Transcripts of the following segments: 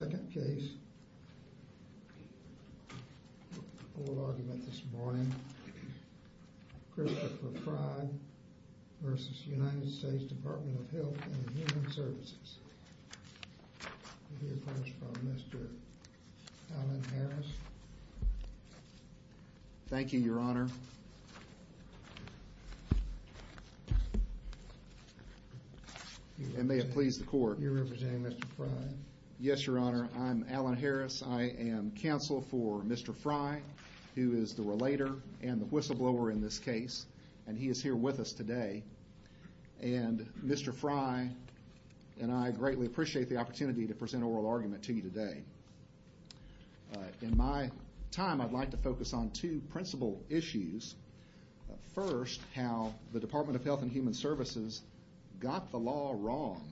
Second case, oral argument this morning. Christopher Frey v. United States Department of Health and Human Services. We'll hear first from Mr. Alan Harris. Thank you, Your Honor. And I'm Alan Harris. I am counsel for Mr. Frey, who is the relator and the whistleblower in this case. And he is here with us today. And Mr. Frey and I greatly appreciate the opportunity to present oral argument to you today. In my time, I'd like to focus on two principal issues. First, how the Department of Health and Human Services got the law wrong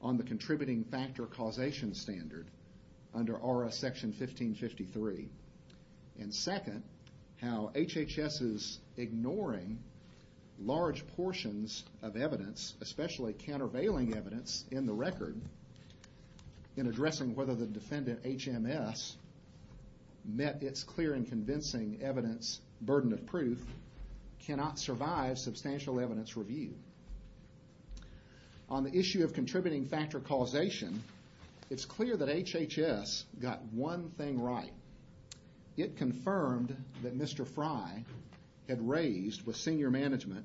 on the probation standard under R.S. Section 1553. And second, how HHS is ignoring large portions of evidence, especially countervailing evidence in the record in addressing whether the defendant HMS met its clear and convincing evidence burden of proof, cannot survive substantial evidence review. On the issue of contributing factor causation, it's clear that HHS got one thing right. It confirmed that Mr. Frey had raised with senior management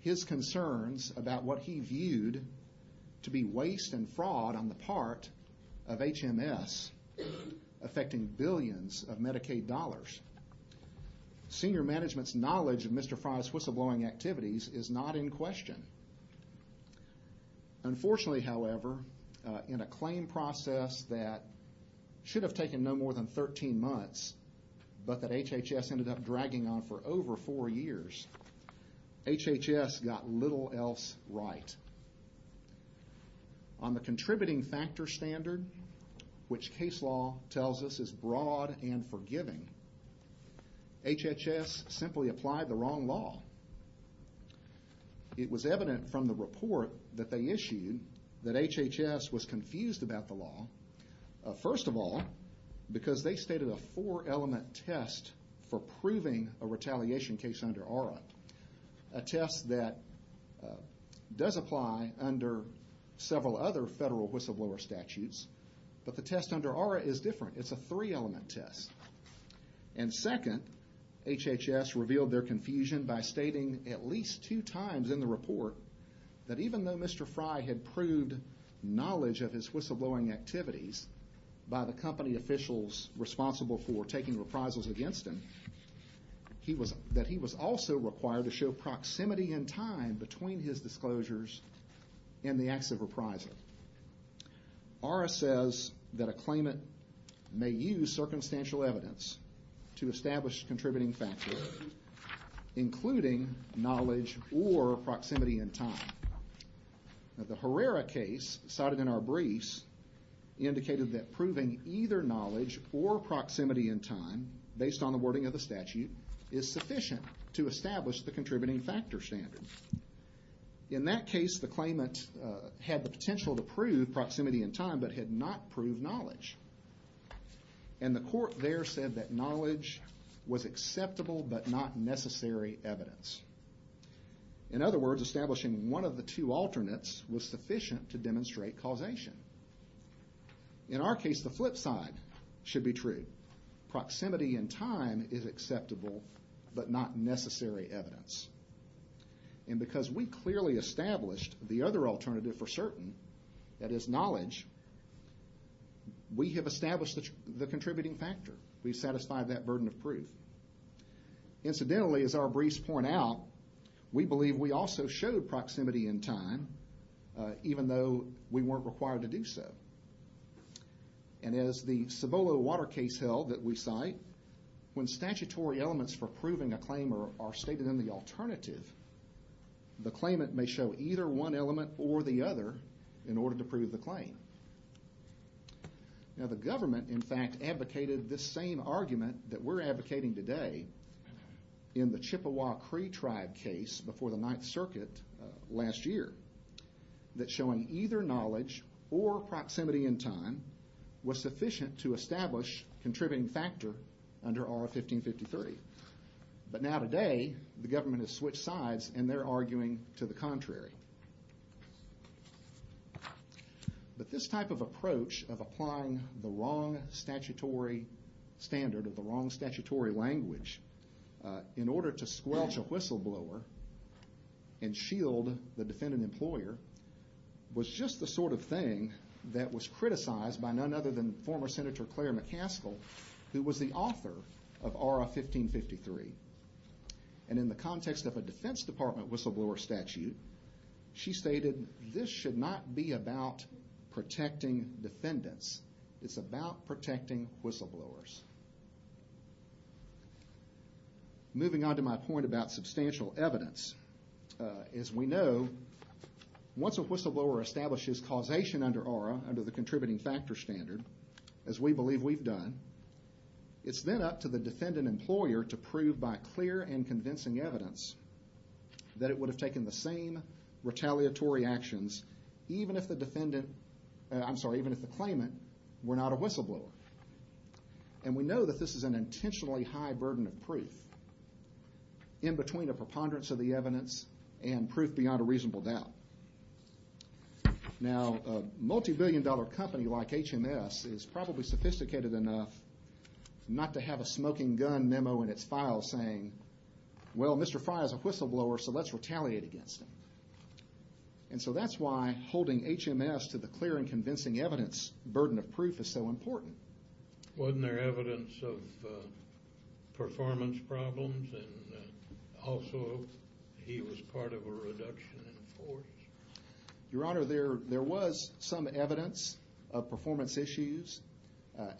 his concerns about what he viewed to be waste and fraud on the part of HMS, affecting billions of dollars. HHS is not in question. Unfortunately, however, in a claim process that should have taken no more than 13 months, but that HHS ended up dragging on for over four years, HHS got little else right. On the contributing factor standard, which case law tells us is it was evident from the report that they issued that HHS was confused about the law. First of all, because they stated a four element test for proving a retaliation case under ARA, a test that does apply under several other federal whistleblower statutes, but the test under ARA is different. It's a three element test. And second, HHS revealed their three times in the report that even though Mr. Frey had proved knowledge of his whistleblowing activities by the company officials responsible for taking reprisals against him, that he was also required to show proximity in time between his disclosures and the acts of reprisal. ARA says that a claimant may use circumstantial evidence to establish contributing factors, including knowledge or proximity in time. The Herrera case, cited in our briefs, indicated that proving either knowledge or proximity in time, based on the wording of the statute, is sufficient to establish the contributing factor standard. In that case, the claimant had the potential to prove proximity in time, but had not proved knowledge. And the court there said that knowledge was acceptable but not necessary evidence. In other words, establishing one of the two alternates was sufficient to demonstrate causation. In our case, the flip side should be true. Proximity in time is acceptable but not necessary evidence. And because we clearly established the other alternative for certain, that is knowledge, we have established the contributing factor. We have satisfied that burden of proof. Incidentally, as our briefs point out, we believe we also showed proximity in time, even though we were not required to do so. And as the Cibolo Water case held that we cite, when statutory elements for proving a claim are stated in the alternative, the claimant may show either one element or the other in order to prove the claim. Now the government, in fact, advocated this same argument that we're advocating today in the Chippewa Cree tribe case before the Ninth Circuit last year, that showing either knowledge or proximity in time was sufficient to establish contributing factor under R. 1553. But now today, the government has switched sides and they're arguing to the contrary. But this type of approach of applying the wrong statutory standard or the wrong statutory language in order to squelch a whistleblower and shield the defendant employer was just the sort of thing that was criticized by none other than former Senator Claire McCaskill, who was the author of R. 1553. And in the context of a Defense Department whistleblower statute, she stated this should not be about protecting defendants. It's about protecting whistleblowers. Moving on to my point about substantial evidence. As we know, once a whistleblower establishes causation under R, under the contributing factor standard, as we believe we've done, it's then up to the defendant employer to determine that it would have taken the same retaliatory actions even if the claimant were not a whistleblower. And we know that this is an intentionally high burden of proof in between a preponderance of the evidence and proof beyond a reasonable doubt. Now, a multibillion dollar company like HMS is probably sophisticated enough not to have a smoking gun memo in its file saying, well, Mr. Frye is a whistleblower, so let's retaliate against him. And so that's why holding HMS to the clear and convincing evidence burden of proof is so important. Wasn't there evidence of performance problems and also he was part of a reduction in force? Your Honor, there was some evidence of performance issues.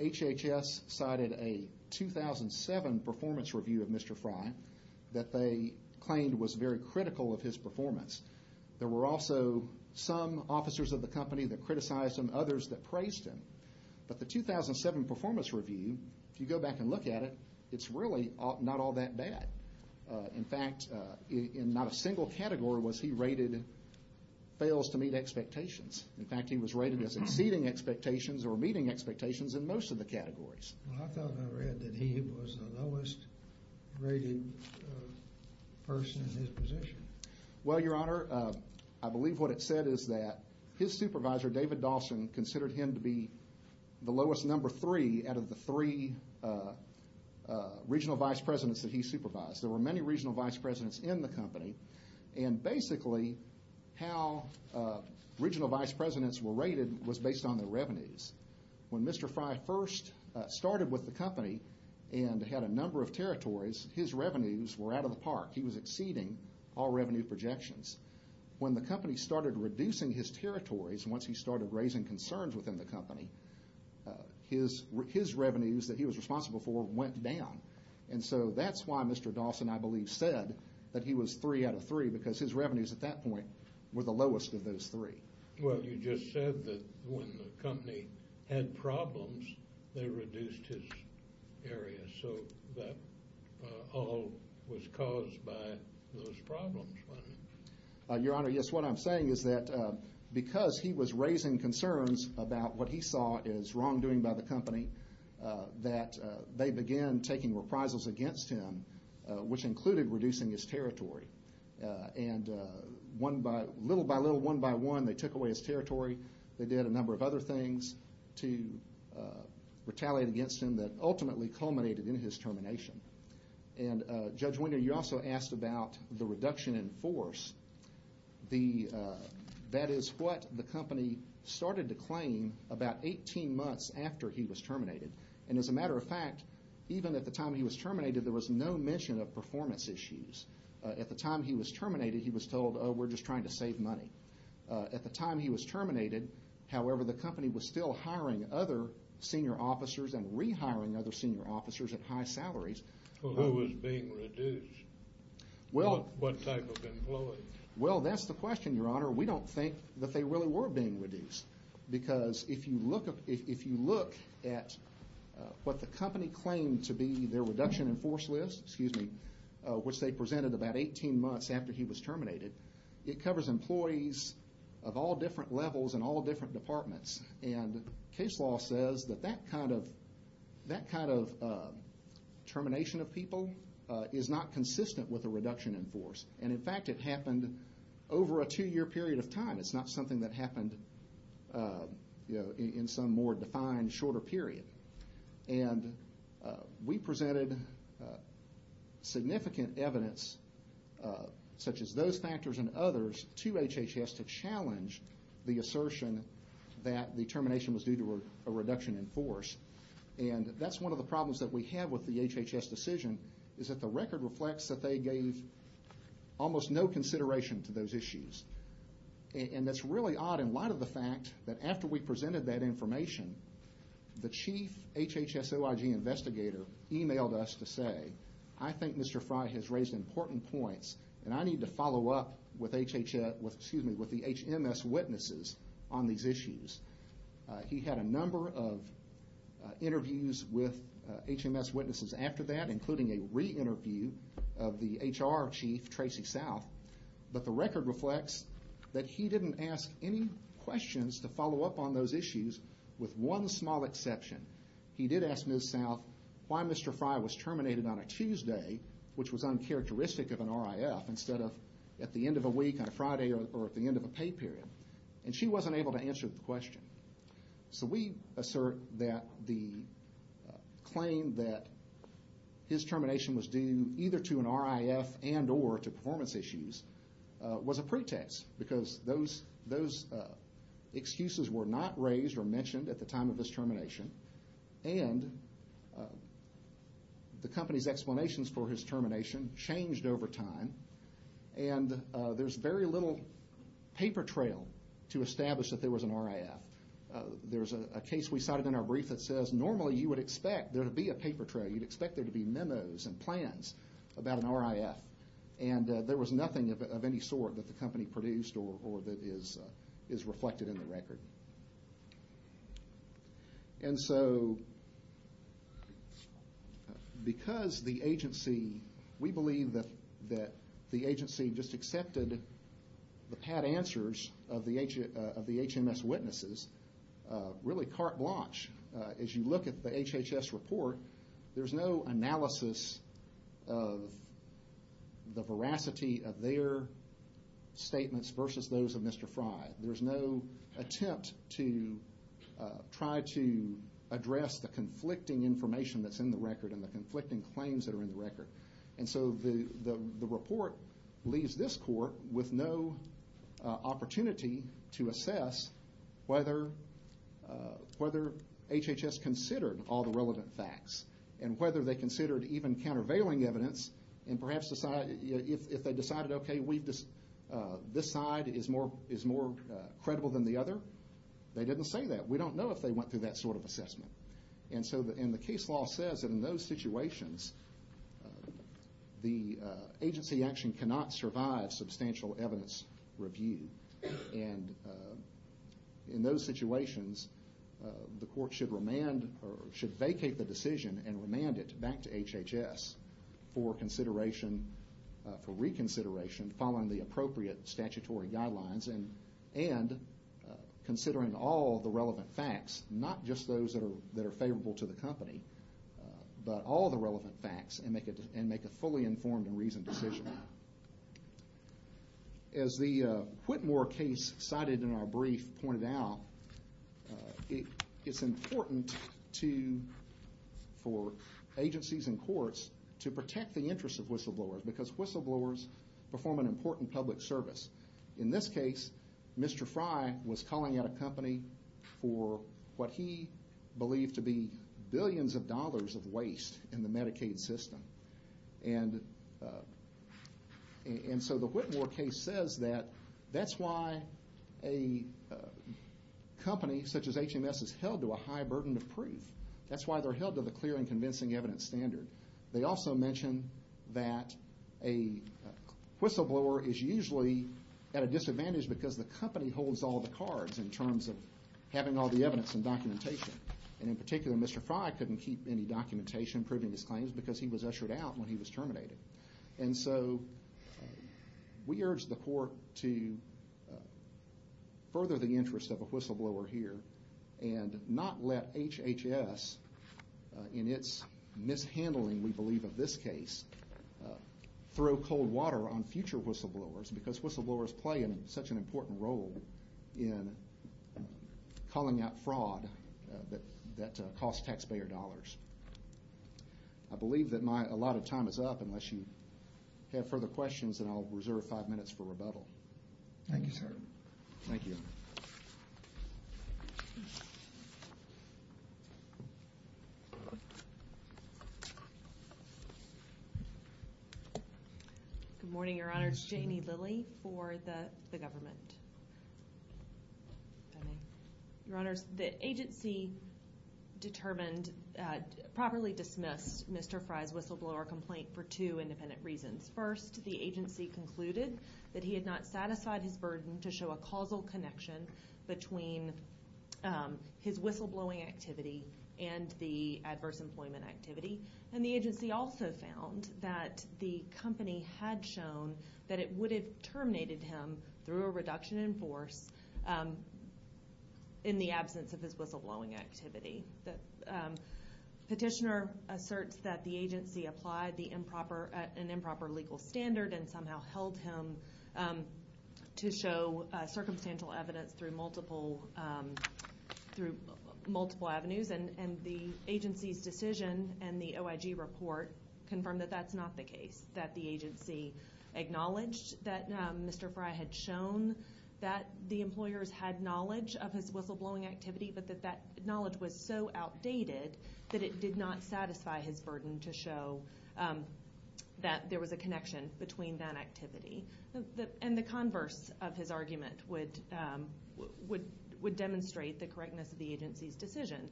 HHS cited a 2007 performance review of Mr. Frye that they claimed was very critical of his performance. There were also some officers of the company that criticized him, others that praised him. But the 2007 performance review, if you go back and look at it, it's really not all that bad. In fact, in not a single category was he rated fails to meet expectations. In fact, he was rated as exceeding performance. Well, I thought I read that he was the lowest rated person in his position. Well, Your Honor, I believe what it said is that his supervisor, David Dawson, considered him to be the lowest number three out of the three regional vice presidents that he supervised. There were many regional vice presidents in the company. And basically, how regional vice presidents were rated was based on their revenues. When Mr. Frye first started with the company and had a number of territories, his revenues were out of the park. He was exceeding all revenue projections. When the company started reducing his territories, once he started raising concerns within the company, his revenues that he was responsible for went down. And so that's why Mr. Dawson, I believe, said that he was three out of three, because his just said that when the company had problems, they reduced his area. So that all was caused by those problems. Your Honor, yes, what I'm saying is that because he was raising concerns about what he saw as wrongdoing by the company, that they began taking reprisals against him, which included reducing his territory. And little by little, one by one, they took away his territory. They did a number of other things to retaliate against him that ultimately culminated in his termination. And Judge Winger, you also asked about the reduction in force. That is what the company started to claim about 18 months after he was terminated. And as a matter of fact, even at the time he was terminated, there was no mention of performance issues. At the time he was terminated, he was told, oh, we're just trying to save money. At the time he was terminated, however, the company was still hiring other senior officers and rehiring other senior officers at high salaries. Well, who was being reduced? What type of employees? Well, that's the question, Your Honor. We don't think that they really were being reduced. Because if you look at what the company claimed to be their reduction in force list, which they presented about 18 months after he was terminated, it covers employees of all different levels and all different departments. And case law says that that kind of termination of people is not consistent with a reduction in force. And in fact, it happened over a two-year period of time. It's not something that happened in some more defined shorter period. And we presented significant evidence, such as those factors and others, to HHS to challenge the assertion that the termination was due to a reduction in force. And that's one of the problems that we have with the HHS decision is that the record reflects that they gave almost no consideration to those issues. And that's really odd in light of the fact that after we presented that information, the chief HHS OIG investigator emailed us to say, I think Mr. Frye has raised important points, and I need to follow up with HMS witnesses on these issues. He had a number of interviews with HMS witnesses after that, including a re-interview of the HR chief, Tracy South. But the record reflects that he didn't ask any questions to follow up on those issues, with one small exception. He did ask Ms. South why Mr. Frye was terminated on a Tuesday, which was uncharacteristic of an RIF, instead of at the end of a week, on a Friday, or at the end of a pay period. And she wasn't able to answer the question. So we assert that the claim that his termination was due either to an RIF and or to performance issues was a pretext, because those excuses were not raised or mentioned at the time of his termination. And the company's explanations for his termination changed over time. And there's very little paper trail to establish that there was an RIF. There's a case we cited in our brief that says normally you would expect there to be about an RIF. And there was nothing of any sort that the company produced or that is reflected in the record. And so, because the agency, we believe that the agency just accepted the pat answers of the HMS witnesses, really carte blanche. As you look at the HHS report, there's no analysis of the veracity of their statements versus those of Mr. Frye. There's no attempt to try to address the conflicting information that's in the record and the conflicting claims that are in the record. And so the report leaves this court with no opportunity to assess whether HHS considered all the relevant facts and whether they considered even countervailing evidence and perhaps if they decided, okay, this side is more credible than the other, they didn't say that. We don't know if they went through that sort of assessment. And so the case law says that in those situations, the agency action cannot survive substantial evidence review. And in those situations, the court should vacate the decision and remand it back to HHS for reconsideration following the appropriate statutory guidelines and considering all the relevant facts, not just those that are favorable to the company, but all the relevant facts. As the Whitmore case cited in our brief pointed out, it's important for agencies and courts to protect the interests of whistleblowers because whistleblowers perform an important public service. In this case, Mr. Frye was calling out a company for what he believed to be billions of dollars of waste in the Medicaid system. And so the Whitmore case says that that's why a company such as HMS is held to a high burden of proof. That's why they're held to the clear and convincing evidence standard. They also mention that a whistleblower is usually at a disadvantage because the company holds all the cards in terms of having all the evidence and documentation. And in particular, Mr. Frye couldn't keep any documentation proving his claims because he was ushered out when he was terminated. And so we urge the court to further the interest of a whistleblower here and not let HHS, in its mishandling, we believe, of this case, throw cold water on future whistleblowers because whistleblowers play such an important role in calling out fraud that costs taxpayer dollars. I believe that my, a lot of time is up unless you have further questions and I'll reserve five minutes for rebuttal. Thank you, sir. Thank you, Your Honor. Good morning, Your Honor. It's Janie Lilly for the government. Your Honor, the agency determined that the agency properly dismissed Mr. Frye's whistleblower complaint for two independent reasons. First, the agency concluded that he had not satisfied his burden to show a causal connection between his whistleblowing activity and the adverse employment activity. And the agency also found that the company had shown that it would have terminated him through a reduction in force in the absence of his whistleblowing activity. The petitioner asserts that the agency applied the improper, an improper legal standard and somehow held him to show circumstantial evidence through multiple, through multiple avenues. And the agency's decision and the OIG report confirmed that that's not the case, that the agency acknowledged that Mr. Frye had shown that the employers had knowledge of his whistleblowing activity, but that that knowledge was so outdated that it did not satisfy his burden to show that there was a connection between that activity. And the converse of his argument would demonstrate the correctness of the agency's decision.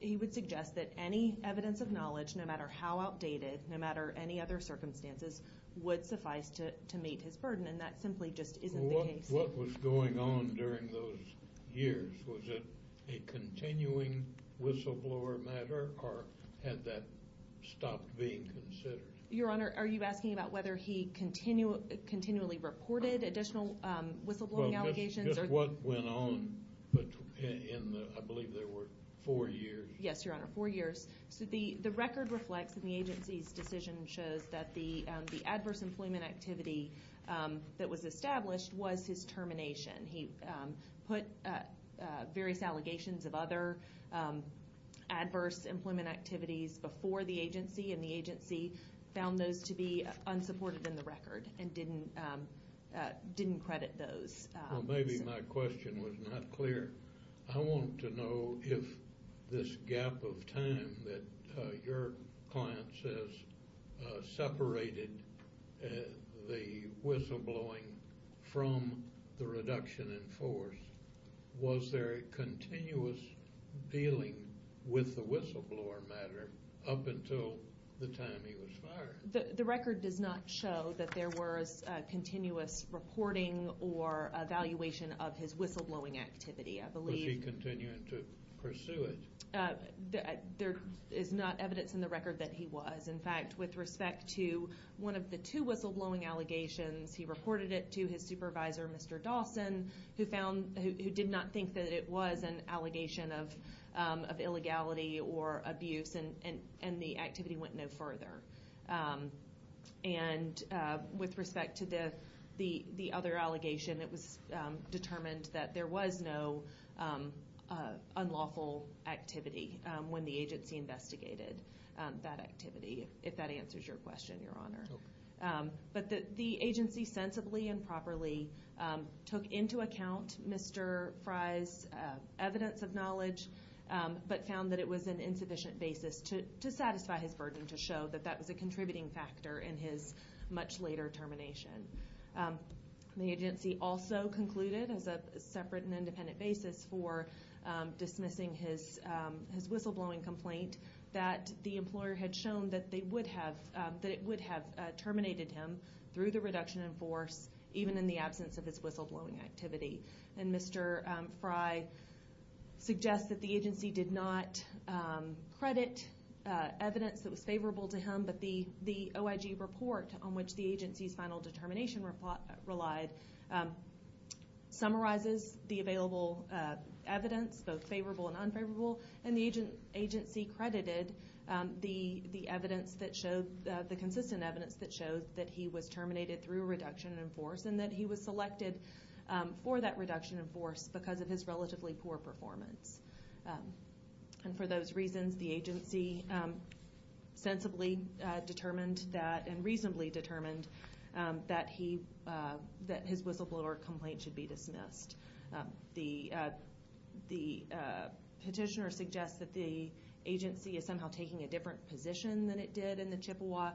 He would suggest that any evidence of knowledge, no matter how outdated, no matter any other evidence of knowledge, would not satisfy his burden to show that there was a connection between his whistleblowing activity and the adverse employment activity. So what was going on during those years? Was it a continuing whistleblower matter, or had that stopped being considered? Your Honor, are you asking about whether he continually reported additional whistleblowing allegations? Well, just what went on in the, I believe there were four years. Yes, Your Honor, four years. The record reflects that the agency's decision shows that the whistleblowing was his termination. He put various allegations of other adverse employment activities before the agency, and the agency found those to be unsupported in the record and didn't credit those. Well, maybe my question was not clear. I want to know if this gap of time that your client says separated the whistleblowing from the reduction in force, was there continuous dealing with the whistleblower matter up until the time he was fired? The record does not show that there was continuous reporting or evaluation of his whistleblowing activity, I believe. Was he continuing to pursue it? There is not evidence in the record that he was. In fact, with respect to one of the two whistleblowing allegations, he reported it to his supervisor, Mr. Dawson, who did not think that it was an allegation of illegality or abuse, and the activity went no further. And with respect to the other allegation, it was determined that there was no unlawful activity when the agency investigated that activity, if that answers your question, Your Honor. But the agency sensibly and properly took into account Mr. Frye's evidence of knowledge, but found that it was an insufficient basis to satisfy his burden to show that that was a contributing factor in his much later termination. The agency also concluded, as a separate and independent basis for dismissing his whistleblowing complaint, that the employer had shown that it would have terminated him through the reduction in force, even in the absence of his whistleblowing activity. And Mr. Frye suggests that the agency did not credit evidence that was favorable to him, but the OIG report on which the agency's final determination relied summarizes the available evidence, both favorable and unfavorable, and the agency credited the evidence that showed, the consistent evidence that showed that he was terminated through a reduction in force and that he was selected for that reduction in force because of his relatively poor performance. And for those reasons, the agency sensibly determined that, and reasonably determined, that his whistleblower complaint should be dismissed. The petitioner suggests that the agency is somehow taking a different position than it did in the Chippewa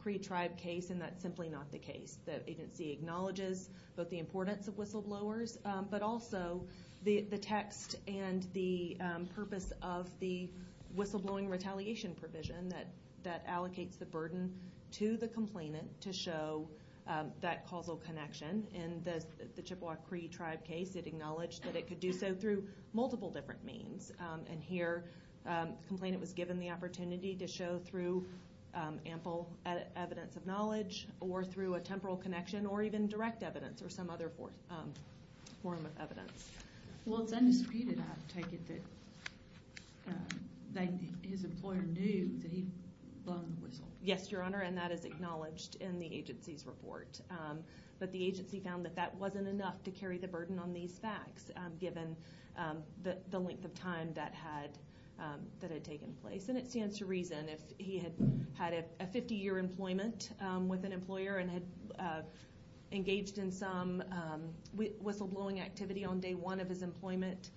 Cree tribe case, and that's simply not the case. The agency acknowledges both the importance of whistleblowers, but also the text and the purpose of the whistleblowing retaliation provision that allocates the burden to the complainant to show that causal connection. In the Chippewa Cree tribe case, it acknowledged that it could do so through multiple different means. And here, the complainant was given the opportunity to show through ample evidence of knowledge or through a temporal connection or even direct evidence or some other form of evidence. Well, it's undisputed, I take it, that his employer knew that he'd blown the whistle. Yes, Your Honor, and that is acknowledged in the agency's report. But the agency found that that wasn't enough to carry the burden on these facts, given the length of time that had taken place. And it stands to reason, if he had had a 50-year employment with an employer and had engaged in some whistleblowing activity on day one of his employment,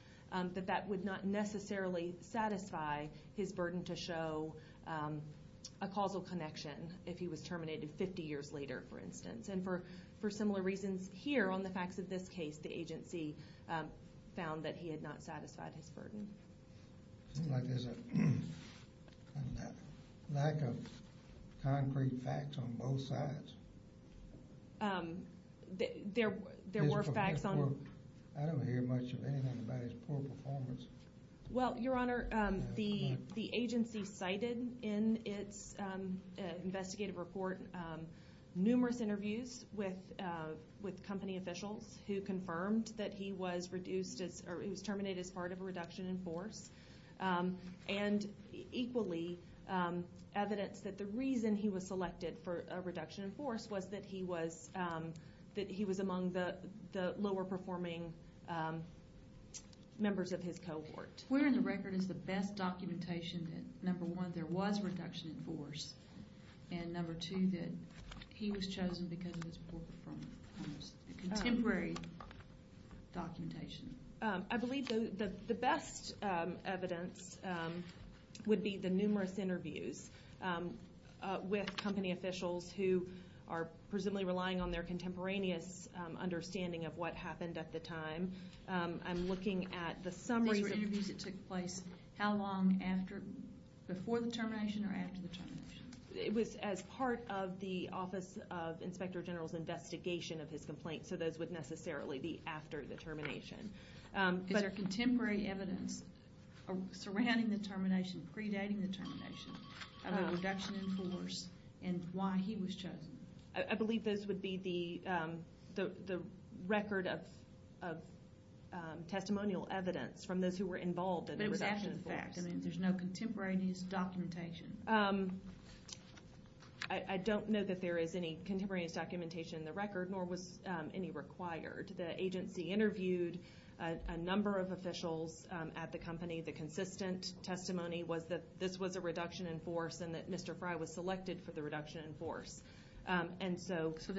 that that would not necessarily satisfy his burden to show a causal connection if he was terminated 50 years later, for instance. And for similar reasons here on the facts of this case, the agency found that he had not satisfied his burden. It seems like there's a lack of concrete facts on both sides. There were facts on... I don't hear much of anything about his poor performance. Well, Your Honor, the agency cited in its investigative report numerous interviews with company officials who confirmed that he was terminated as part of a reduction in force and equally evidenced that the reason he was selected for a reduction in force was that he was among the lower-performing members of his cohort. Where in the record is the best documentation that, number one, there was reduction in force, and, number two, that he was chosen because of his poor performance? Contemporary documentation. I believe the best evidence would be the numerous interviews with company officials who are presumably relying on their contemporaneous understanding of what happened at the time. I'm looking at the summary... how long before the termination or after the termination? It was as part of the Office of Inspector General's investigation of his complaint, so those would necessarily be after the termination. Is there contemporary evidence surrounding the termination, predating the termination, of a reduction in force and why he was chosen? I believe those would be the record of testimonial evidence from those who were involved in the reduction in force. But it was after the fact. I mean, there's no contemporaneous documentation. I don't know that there is any contemporaneous documentation in the record, nor was any required. The agency interviewed a number of officials at the company. that Mr. Fry was selected for the reduction in force. And so... Let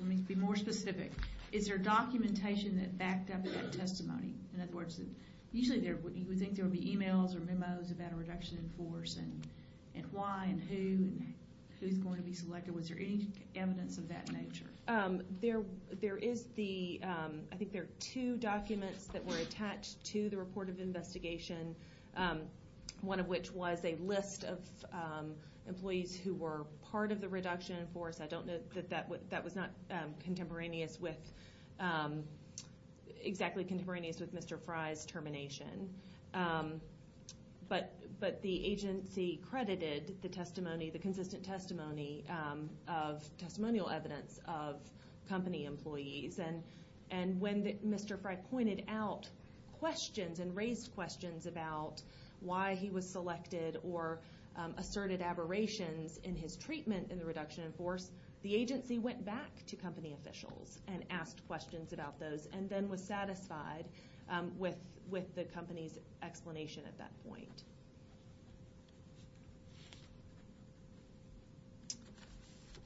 me be more specific. Is there documentation that backed up that testimony? In other words, usually you would think there would be e-mails or memos about a reduction in force and why and who and who's going to be selected. Was there any evidence of that nature? There is the... I think there are two documents that were attached to the report of investigation, one of which was a list of employees who were part of the reduction in force. I don't know that that was not contemporaneous with... exactly contemporaneous with Mr. Fry's termination. But the agency credited the testimony, the consistent testimony, of testimonial evidence of company employees. And when Mr. Fry pointed out questions and raised questions about why he was selected or asserted aberrations in his treatment in the reduction in force, the agency went back to company officials and asked questions about those and then was satisfied with the company's explanation at that point.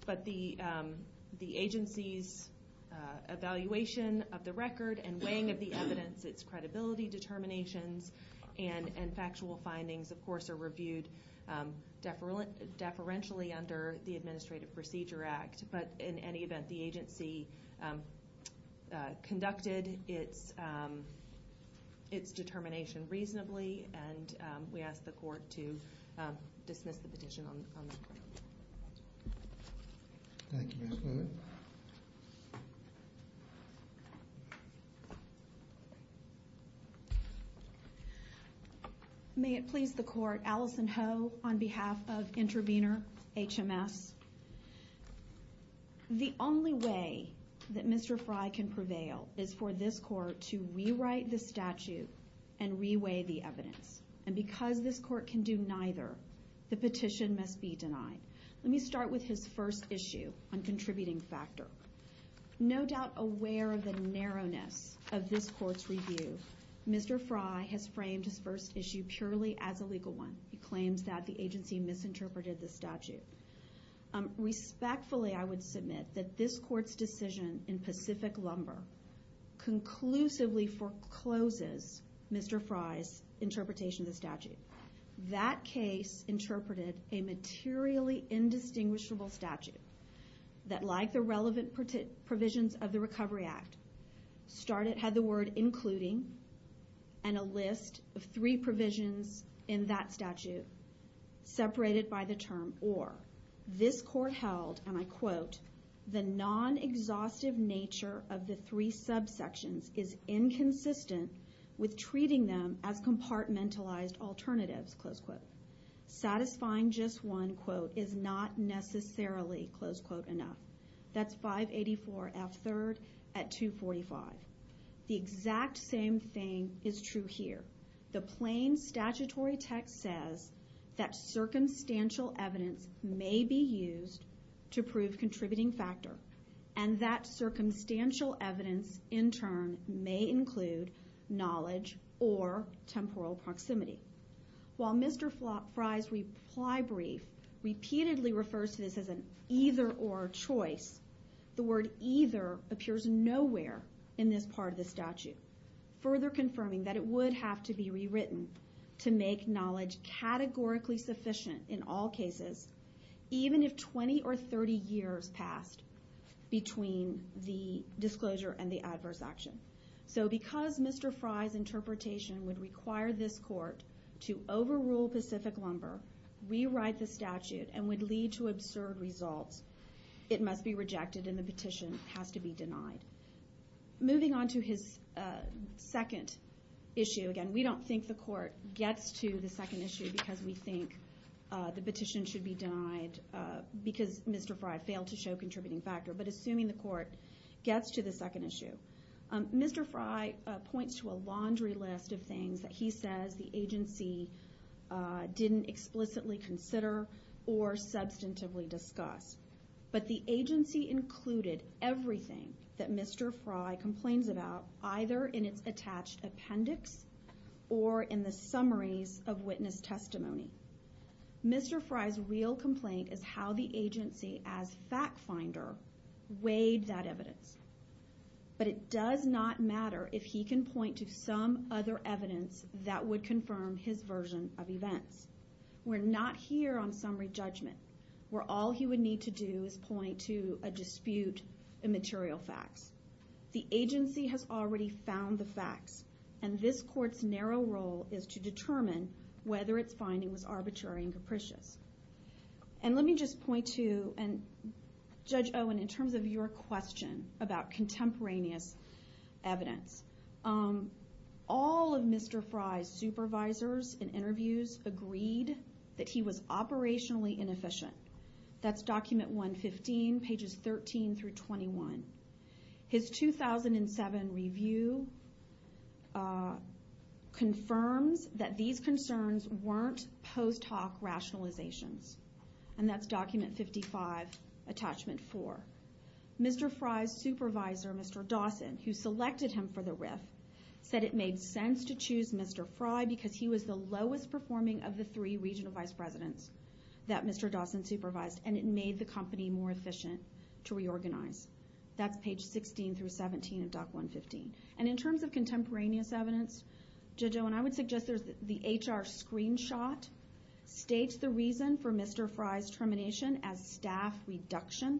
But the agency's evaluation of the record and weighing of the evidence, its credibility determinations and factual findings, of course, are reviewed deferentially under the Administrative Procedure Act. But in any event, the agency conducted its determination reasonably and we ask the Court to dismiss the petition on that point. Thank you, Ms. Newman. May it please the Court, Alison Ho on behalf of Intervenor HMS. The only way that Mr. Fry can prevail is for this Court to rewrite the statute and reweigh the evidence. And because this Court can do neither, the petition must be denied. Let me start with his first issue on contributing factor. No doubt aware of the narrowness of this Court's review, Mr. Fry has framed his first issue purely as a legal one. He claims that the agency misinterpreted the statute. Respectfully, I would submit that this Court's decision in Pacific Lumber conclusively forecloses Mr. Fry's interpretation of the statute. That case interpreted a materially indistinguishable statute that, like the relevant provisions of the Recovery Act, had the word including and a list of three provisions in that statute separated by the term or. However, this Court held, and I quote, the non-exhaustive nature of the three subsections is inconsistent with treating them as compartmentalized alternatives, close quote. Satisfying just one quote is not necessarily, close quote, enough. That's 584 F. 3rd at 245. The exact same thing is true here. The plain statutory text says that circumstantial evidence may be used to prove contributing factor, and that circumstantial evidence in turn may include knowledge or temporal proximity. While Mr. Fry's reply brief repeatedly refers to this as an either or choice, further confirming that it would have to be rewritten to make knowledge categorically sufficient in all cases, even if 20 or 30 years passed between the disclosure and the adverse action. So because Mr. Fry's interpretation would require this Court to overrule Pacific Lumber, rewrite the statute, and would lead to absurd results, it must be rejected and the petition has to be denied. Moving on to his second issue, again, we don't think the Court gets to the second issue because we think the petition should be denied because Mr. Fry failed to show contributing factor, but assuming the Court gets to the second issue. Mr. Fry points to a laundry list of things that he says the agency didn't explicitly consider or substantively discuss, but the agency included everything that Mr. Fry complains about either in its attached appendix or in the summaries of witness testimony. Mr. Fry's real complaint is how the agency as fact finder weighed that evidence, but it does not matter if he can point to some other evidence that would confirm his version of events. We're not here on summary judgment. Where all he would need to do is point to a dispute in material facts. The agency has already found the facts, and this Court's narrow role is to determine whether its finding was arbitrary and capricious. And let me just point to, and Judge Owen, in terms of your question about contemporaneous evidence, all of Mr. Fry's supervisors in interviews agreed that he was operationally inefficient. That's document 115, pages 13 through 21. His 2007 review confirms that these concerns weren't post hoc rationalizations, and that's document 55, attachment 4. Mr. Fry's supervisor, Mr. Dawson, who selected him for the RIF, said it made sense to choose Mr. Fry because he was the lowest performing of the three regional vice presidents that Mr. Dawson supervised, and it made the company more efficient to reorganize. That's page 16 through 17 of doc 115. And in terms of contemporaneous evidence, Judge Owen, I would suggest the HR screenshot states the reason for Mr. Fry's termination as staff reduction.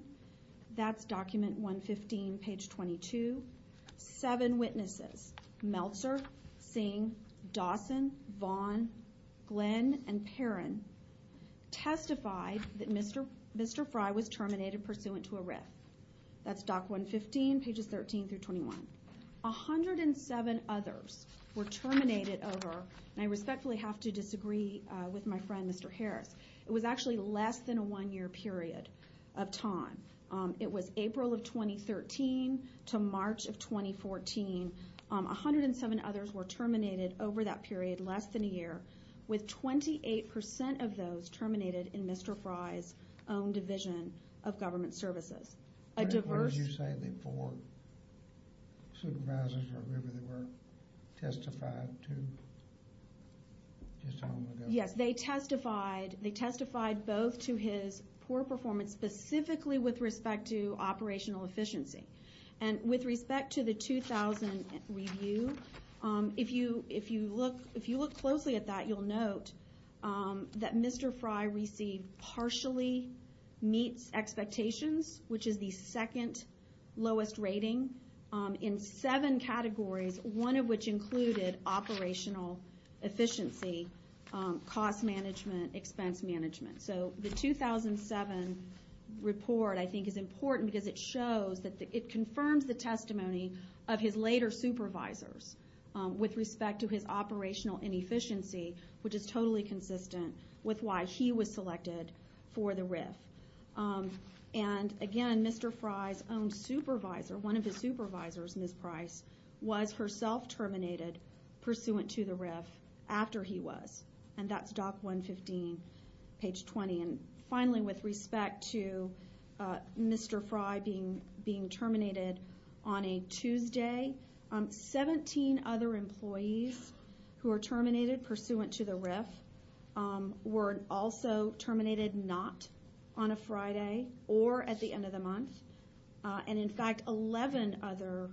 That's document 115, page 22. Seven witnesses, Meltzer, Singh, Dawson, Vaughn, Glenn, and Perrin, testified that Mr. Fry was terminated pursuant to a RIF. That's document 115, pages 13 through 21. 107 others were terminated over, and I respectfully have to disagree with my friend, Mr. Harris, it was actually less than a one-year period of time. It was April of 2013 to March of 2014. 107 others were terminated over that period, less than a year, with 28% of those terminated in Mr. Fry's own division of government services. A diverse... What did you say the four supervisors or whoever they were testified to just a moment ago? Yes, they testified both to his poor performance, specifically with respect to operational efficiency. And with respect to the 2000 review, if you look closely at that, you'll note that Mr. Fry received partially meets expectations, which is the second lowest rating in seven categories, one of which included operational efficiency, cost management, expense management. So the 2007 report, I think, is important because it shows that it confirms the testimony of his later supervisors with respect to his operational inefficiency, which is totally consistent with why he was selected for the RIF. And, again, Mr. Fry's own supervisor, one of his supervisors, Ms. Price, was herself terminated pursuant to the RIF after he was. And that's Doc 115, page 20. And, finally, with respect to Mr. Fry being terminated on a Tuesday, 17 other employees who were terminated pursuant to the RIF were also terminated not on a Friday or at the end of the month. And, in fact, 11 other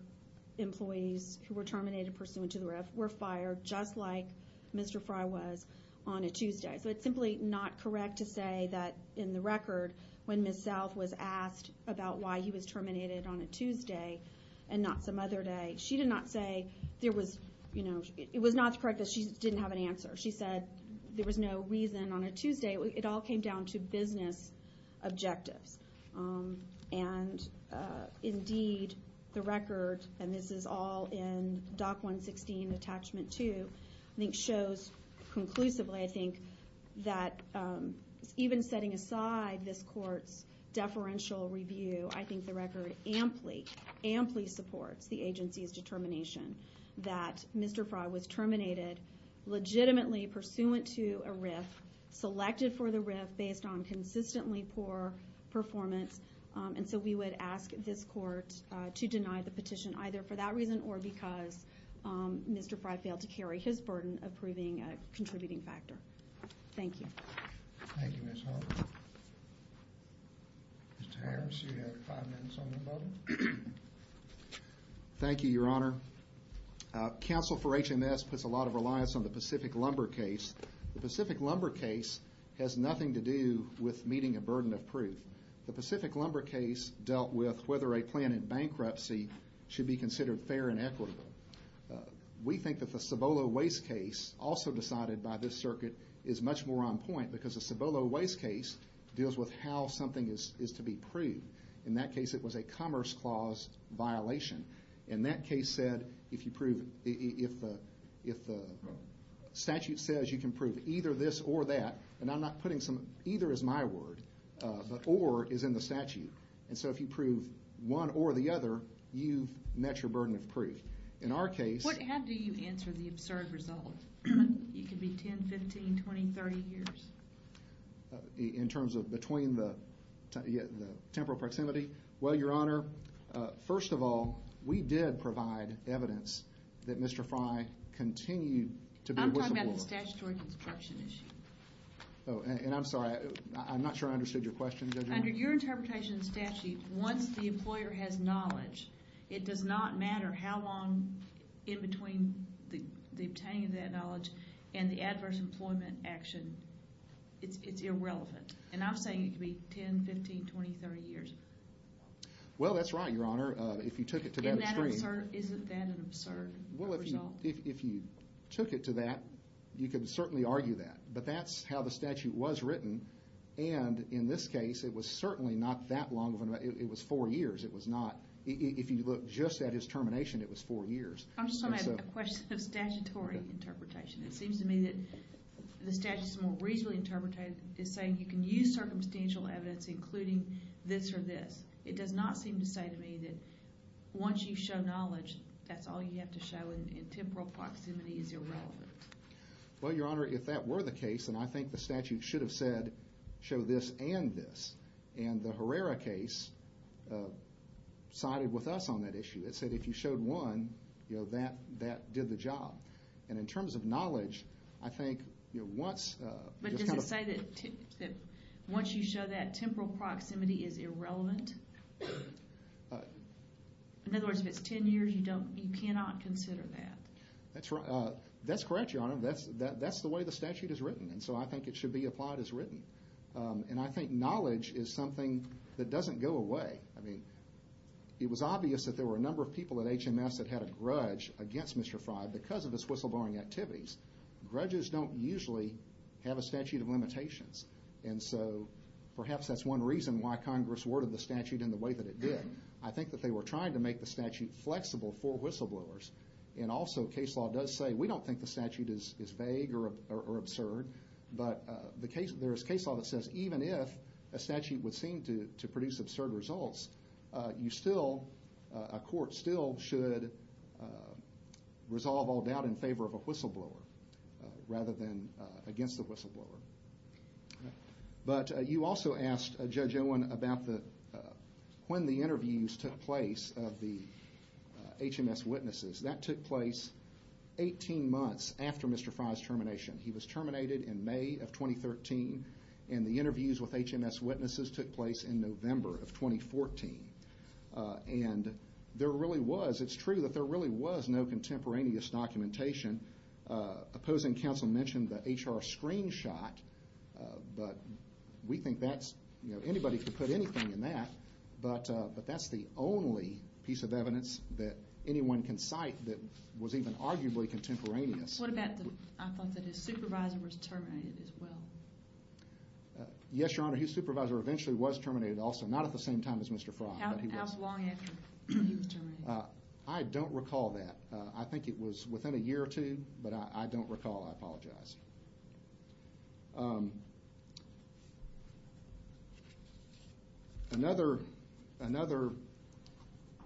employees who were terminated pursuant to the RIF were fired, just like Mr. Fry was, on a Tuesday. So it's simply not correct to say that, in the record, when Ms. South was asked about why he was terminated on a Tuesday and not some other day, she did not say there was, you know, it was not correct that she didn't have an answer. She said there was no reason on a Tuesday. It all came down to business objectives. And, indeed, the record, and this is all in Doc 116, Attachment 2, I think shows conclusively, I think, that even setting aside this court's deferential review, I think the record amply, amply supports the agency's determination that Mr. Fry was terminated legitimately pursuant to a RIF, selected for the RIF based on consistently poor performance. And so we would ask this court to deny the petition either for that reason or because Mr. Fry failed to carry his burden of proving a contributing factor. Thank you. Thank you, Ms. Harper. Mr. Harris, you have five minutes on the button. Thank you, Your Honor. Counsel for HMS puts a lot of reliance on the Pacific Lumber case. The Pacific Lumber case has nothing to do with meeting a burden of proof. The Pacific Lumber case dealt with whether a plan in bankruptcy should be considered fair and equitable. We think that the Cibolo Waste case, also decided by this circuit, is much more on point because the Cibolo Waste case deals with how something is to be proved. In that case, it was a commerce clause violation. And that case said if the statute says you can prove either this or that, and I'm not putting some, either is my word, but or is in the statute. And so if you prove one or the other, you've met your burden of proof. In our case- How do you answer the absurd result? It could be 10, 15, 20, 30 years. In terms of between the temporal proximity? Well, Your Honor, first of all, we did provide evidence that Mr. Fry continued to be- I'm talking about the statutory construction issue. Oh, and I'm sorry, I'm not sure I understood your question. Under your interpretation of the statute, once the employer has knowledge, it does not matter how long in between the obtaining of that knowledge and the adverse employment action. It's irrelevant. And I'm saying it could be 10, 15, 20, 30 years. Well, that's right, Your Honor. If you took it to that extreme- Isn't that an absurd result? Well, if you took it to that, you could certainly argue that. But that's how the statute was written. And in this case, it was certainly not that long of a- It was four years. It was not- If you look just at his termination, it was four years. I'm just going to add a question of statutory interpretation. It seems to me that the statute is more reasonably interpreted as saying you can use circumstantial evidence, including this or this. It does not seem to say to me that once you show knowledge, that's all you have to show, and temporal proximity is irrelevant. Well, Your Honor, if that were the case, then I think the statute should have said, show this and this. And the Herrera case sided with us on that issue. It said if you showed one, that did the job. And in terms of knowledge, I think once- But does it say that once you show that, temporal proximity is irrelevant? In other words, if it's ten years, you cannot consider that. That's correct, Your Honor. That's the way the statute is written, and so I think it should be applied as written. And I think knowledge is something that doesn't go away. I mean, it was obvious that there were a number of people at HMS that had a grudge against Mr. Frey because of his whistleblowing activities. Grudges don't usually have a statute of limitations, and so perhaps that's one reason why Congress worded the statute in the way that it did. I think that they were trying to make the statute flexible for whistleblowers, and also case law does say we don't think the statute is vague or absurd, but there is case law that says even if a statute would seem to produce absurd results, a court still should resolve all doubt in favor of a whistleblower rather than against the whistleblower. But you also asked Judge Owen about when the interviews took place of the HMS witnesses. That took place 18 months after Mr. Frey's termination. He was terminated in May of 2013, and the interviews with HMS witnesses took place in November of 2014. And there really was, it's true that there really was no contemporaneous documentation. Opposing counsel mentioned the HR screenshot, but we think that's, you know, anybody could put anything in that, but that's the only piece of evidence that anyone can cite that was even arguably contemporaneous. What about the fact that his supervisor was terminated as well? Yes, Your Honor, his supervisor eventually was terminated also. Not at the same time as Mr. Frey, but he was. How long after he was terminated? I don't recall that. I think it was within a year or two, but I don't recall. I apologize. Another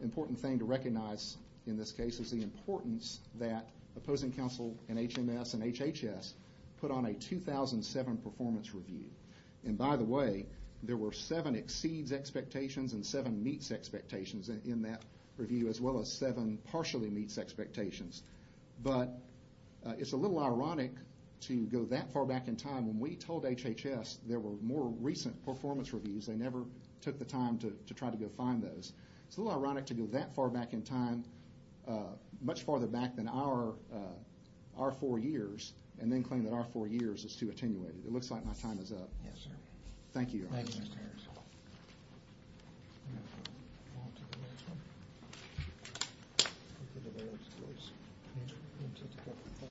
important thing to recognize in this case is the importance that opposing counsel and HMS and HHS put on a 2007 performance review. And by the way, there were seven exceeds expectations and seven meets expectations in that review, as well as seven partially meets expectations. But it's a little ironic to go that far back in time. When we told HHS there were more recent performance reviews, they never took the time to try to go find those. It's a little ironic to go that far back in time, much farther back than our four years, and then claim that our four years is too attenuated. It looks like my time is up. Yes, sir. Thank you, Your Honor. Thank you, Mr. Harris.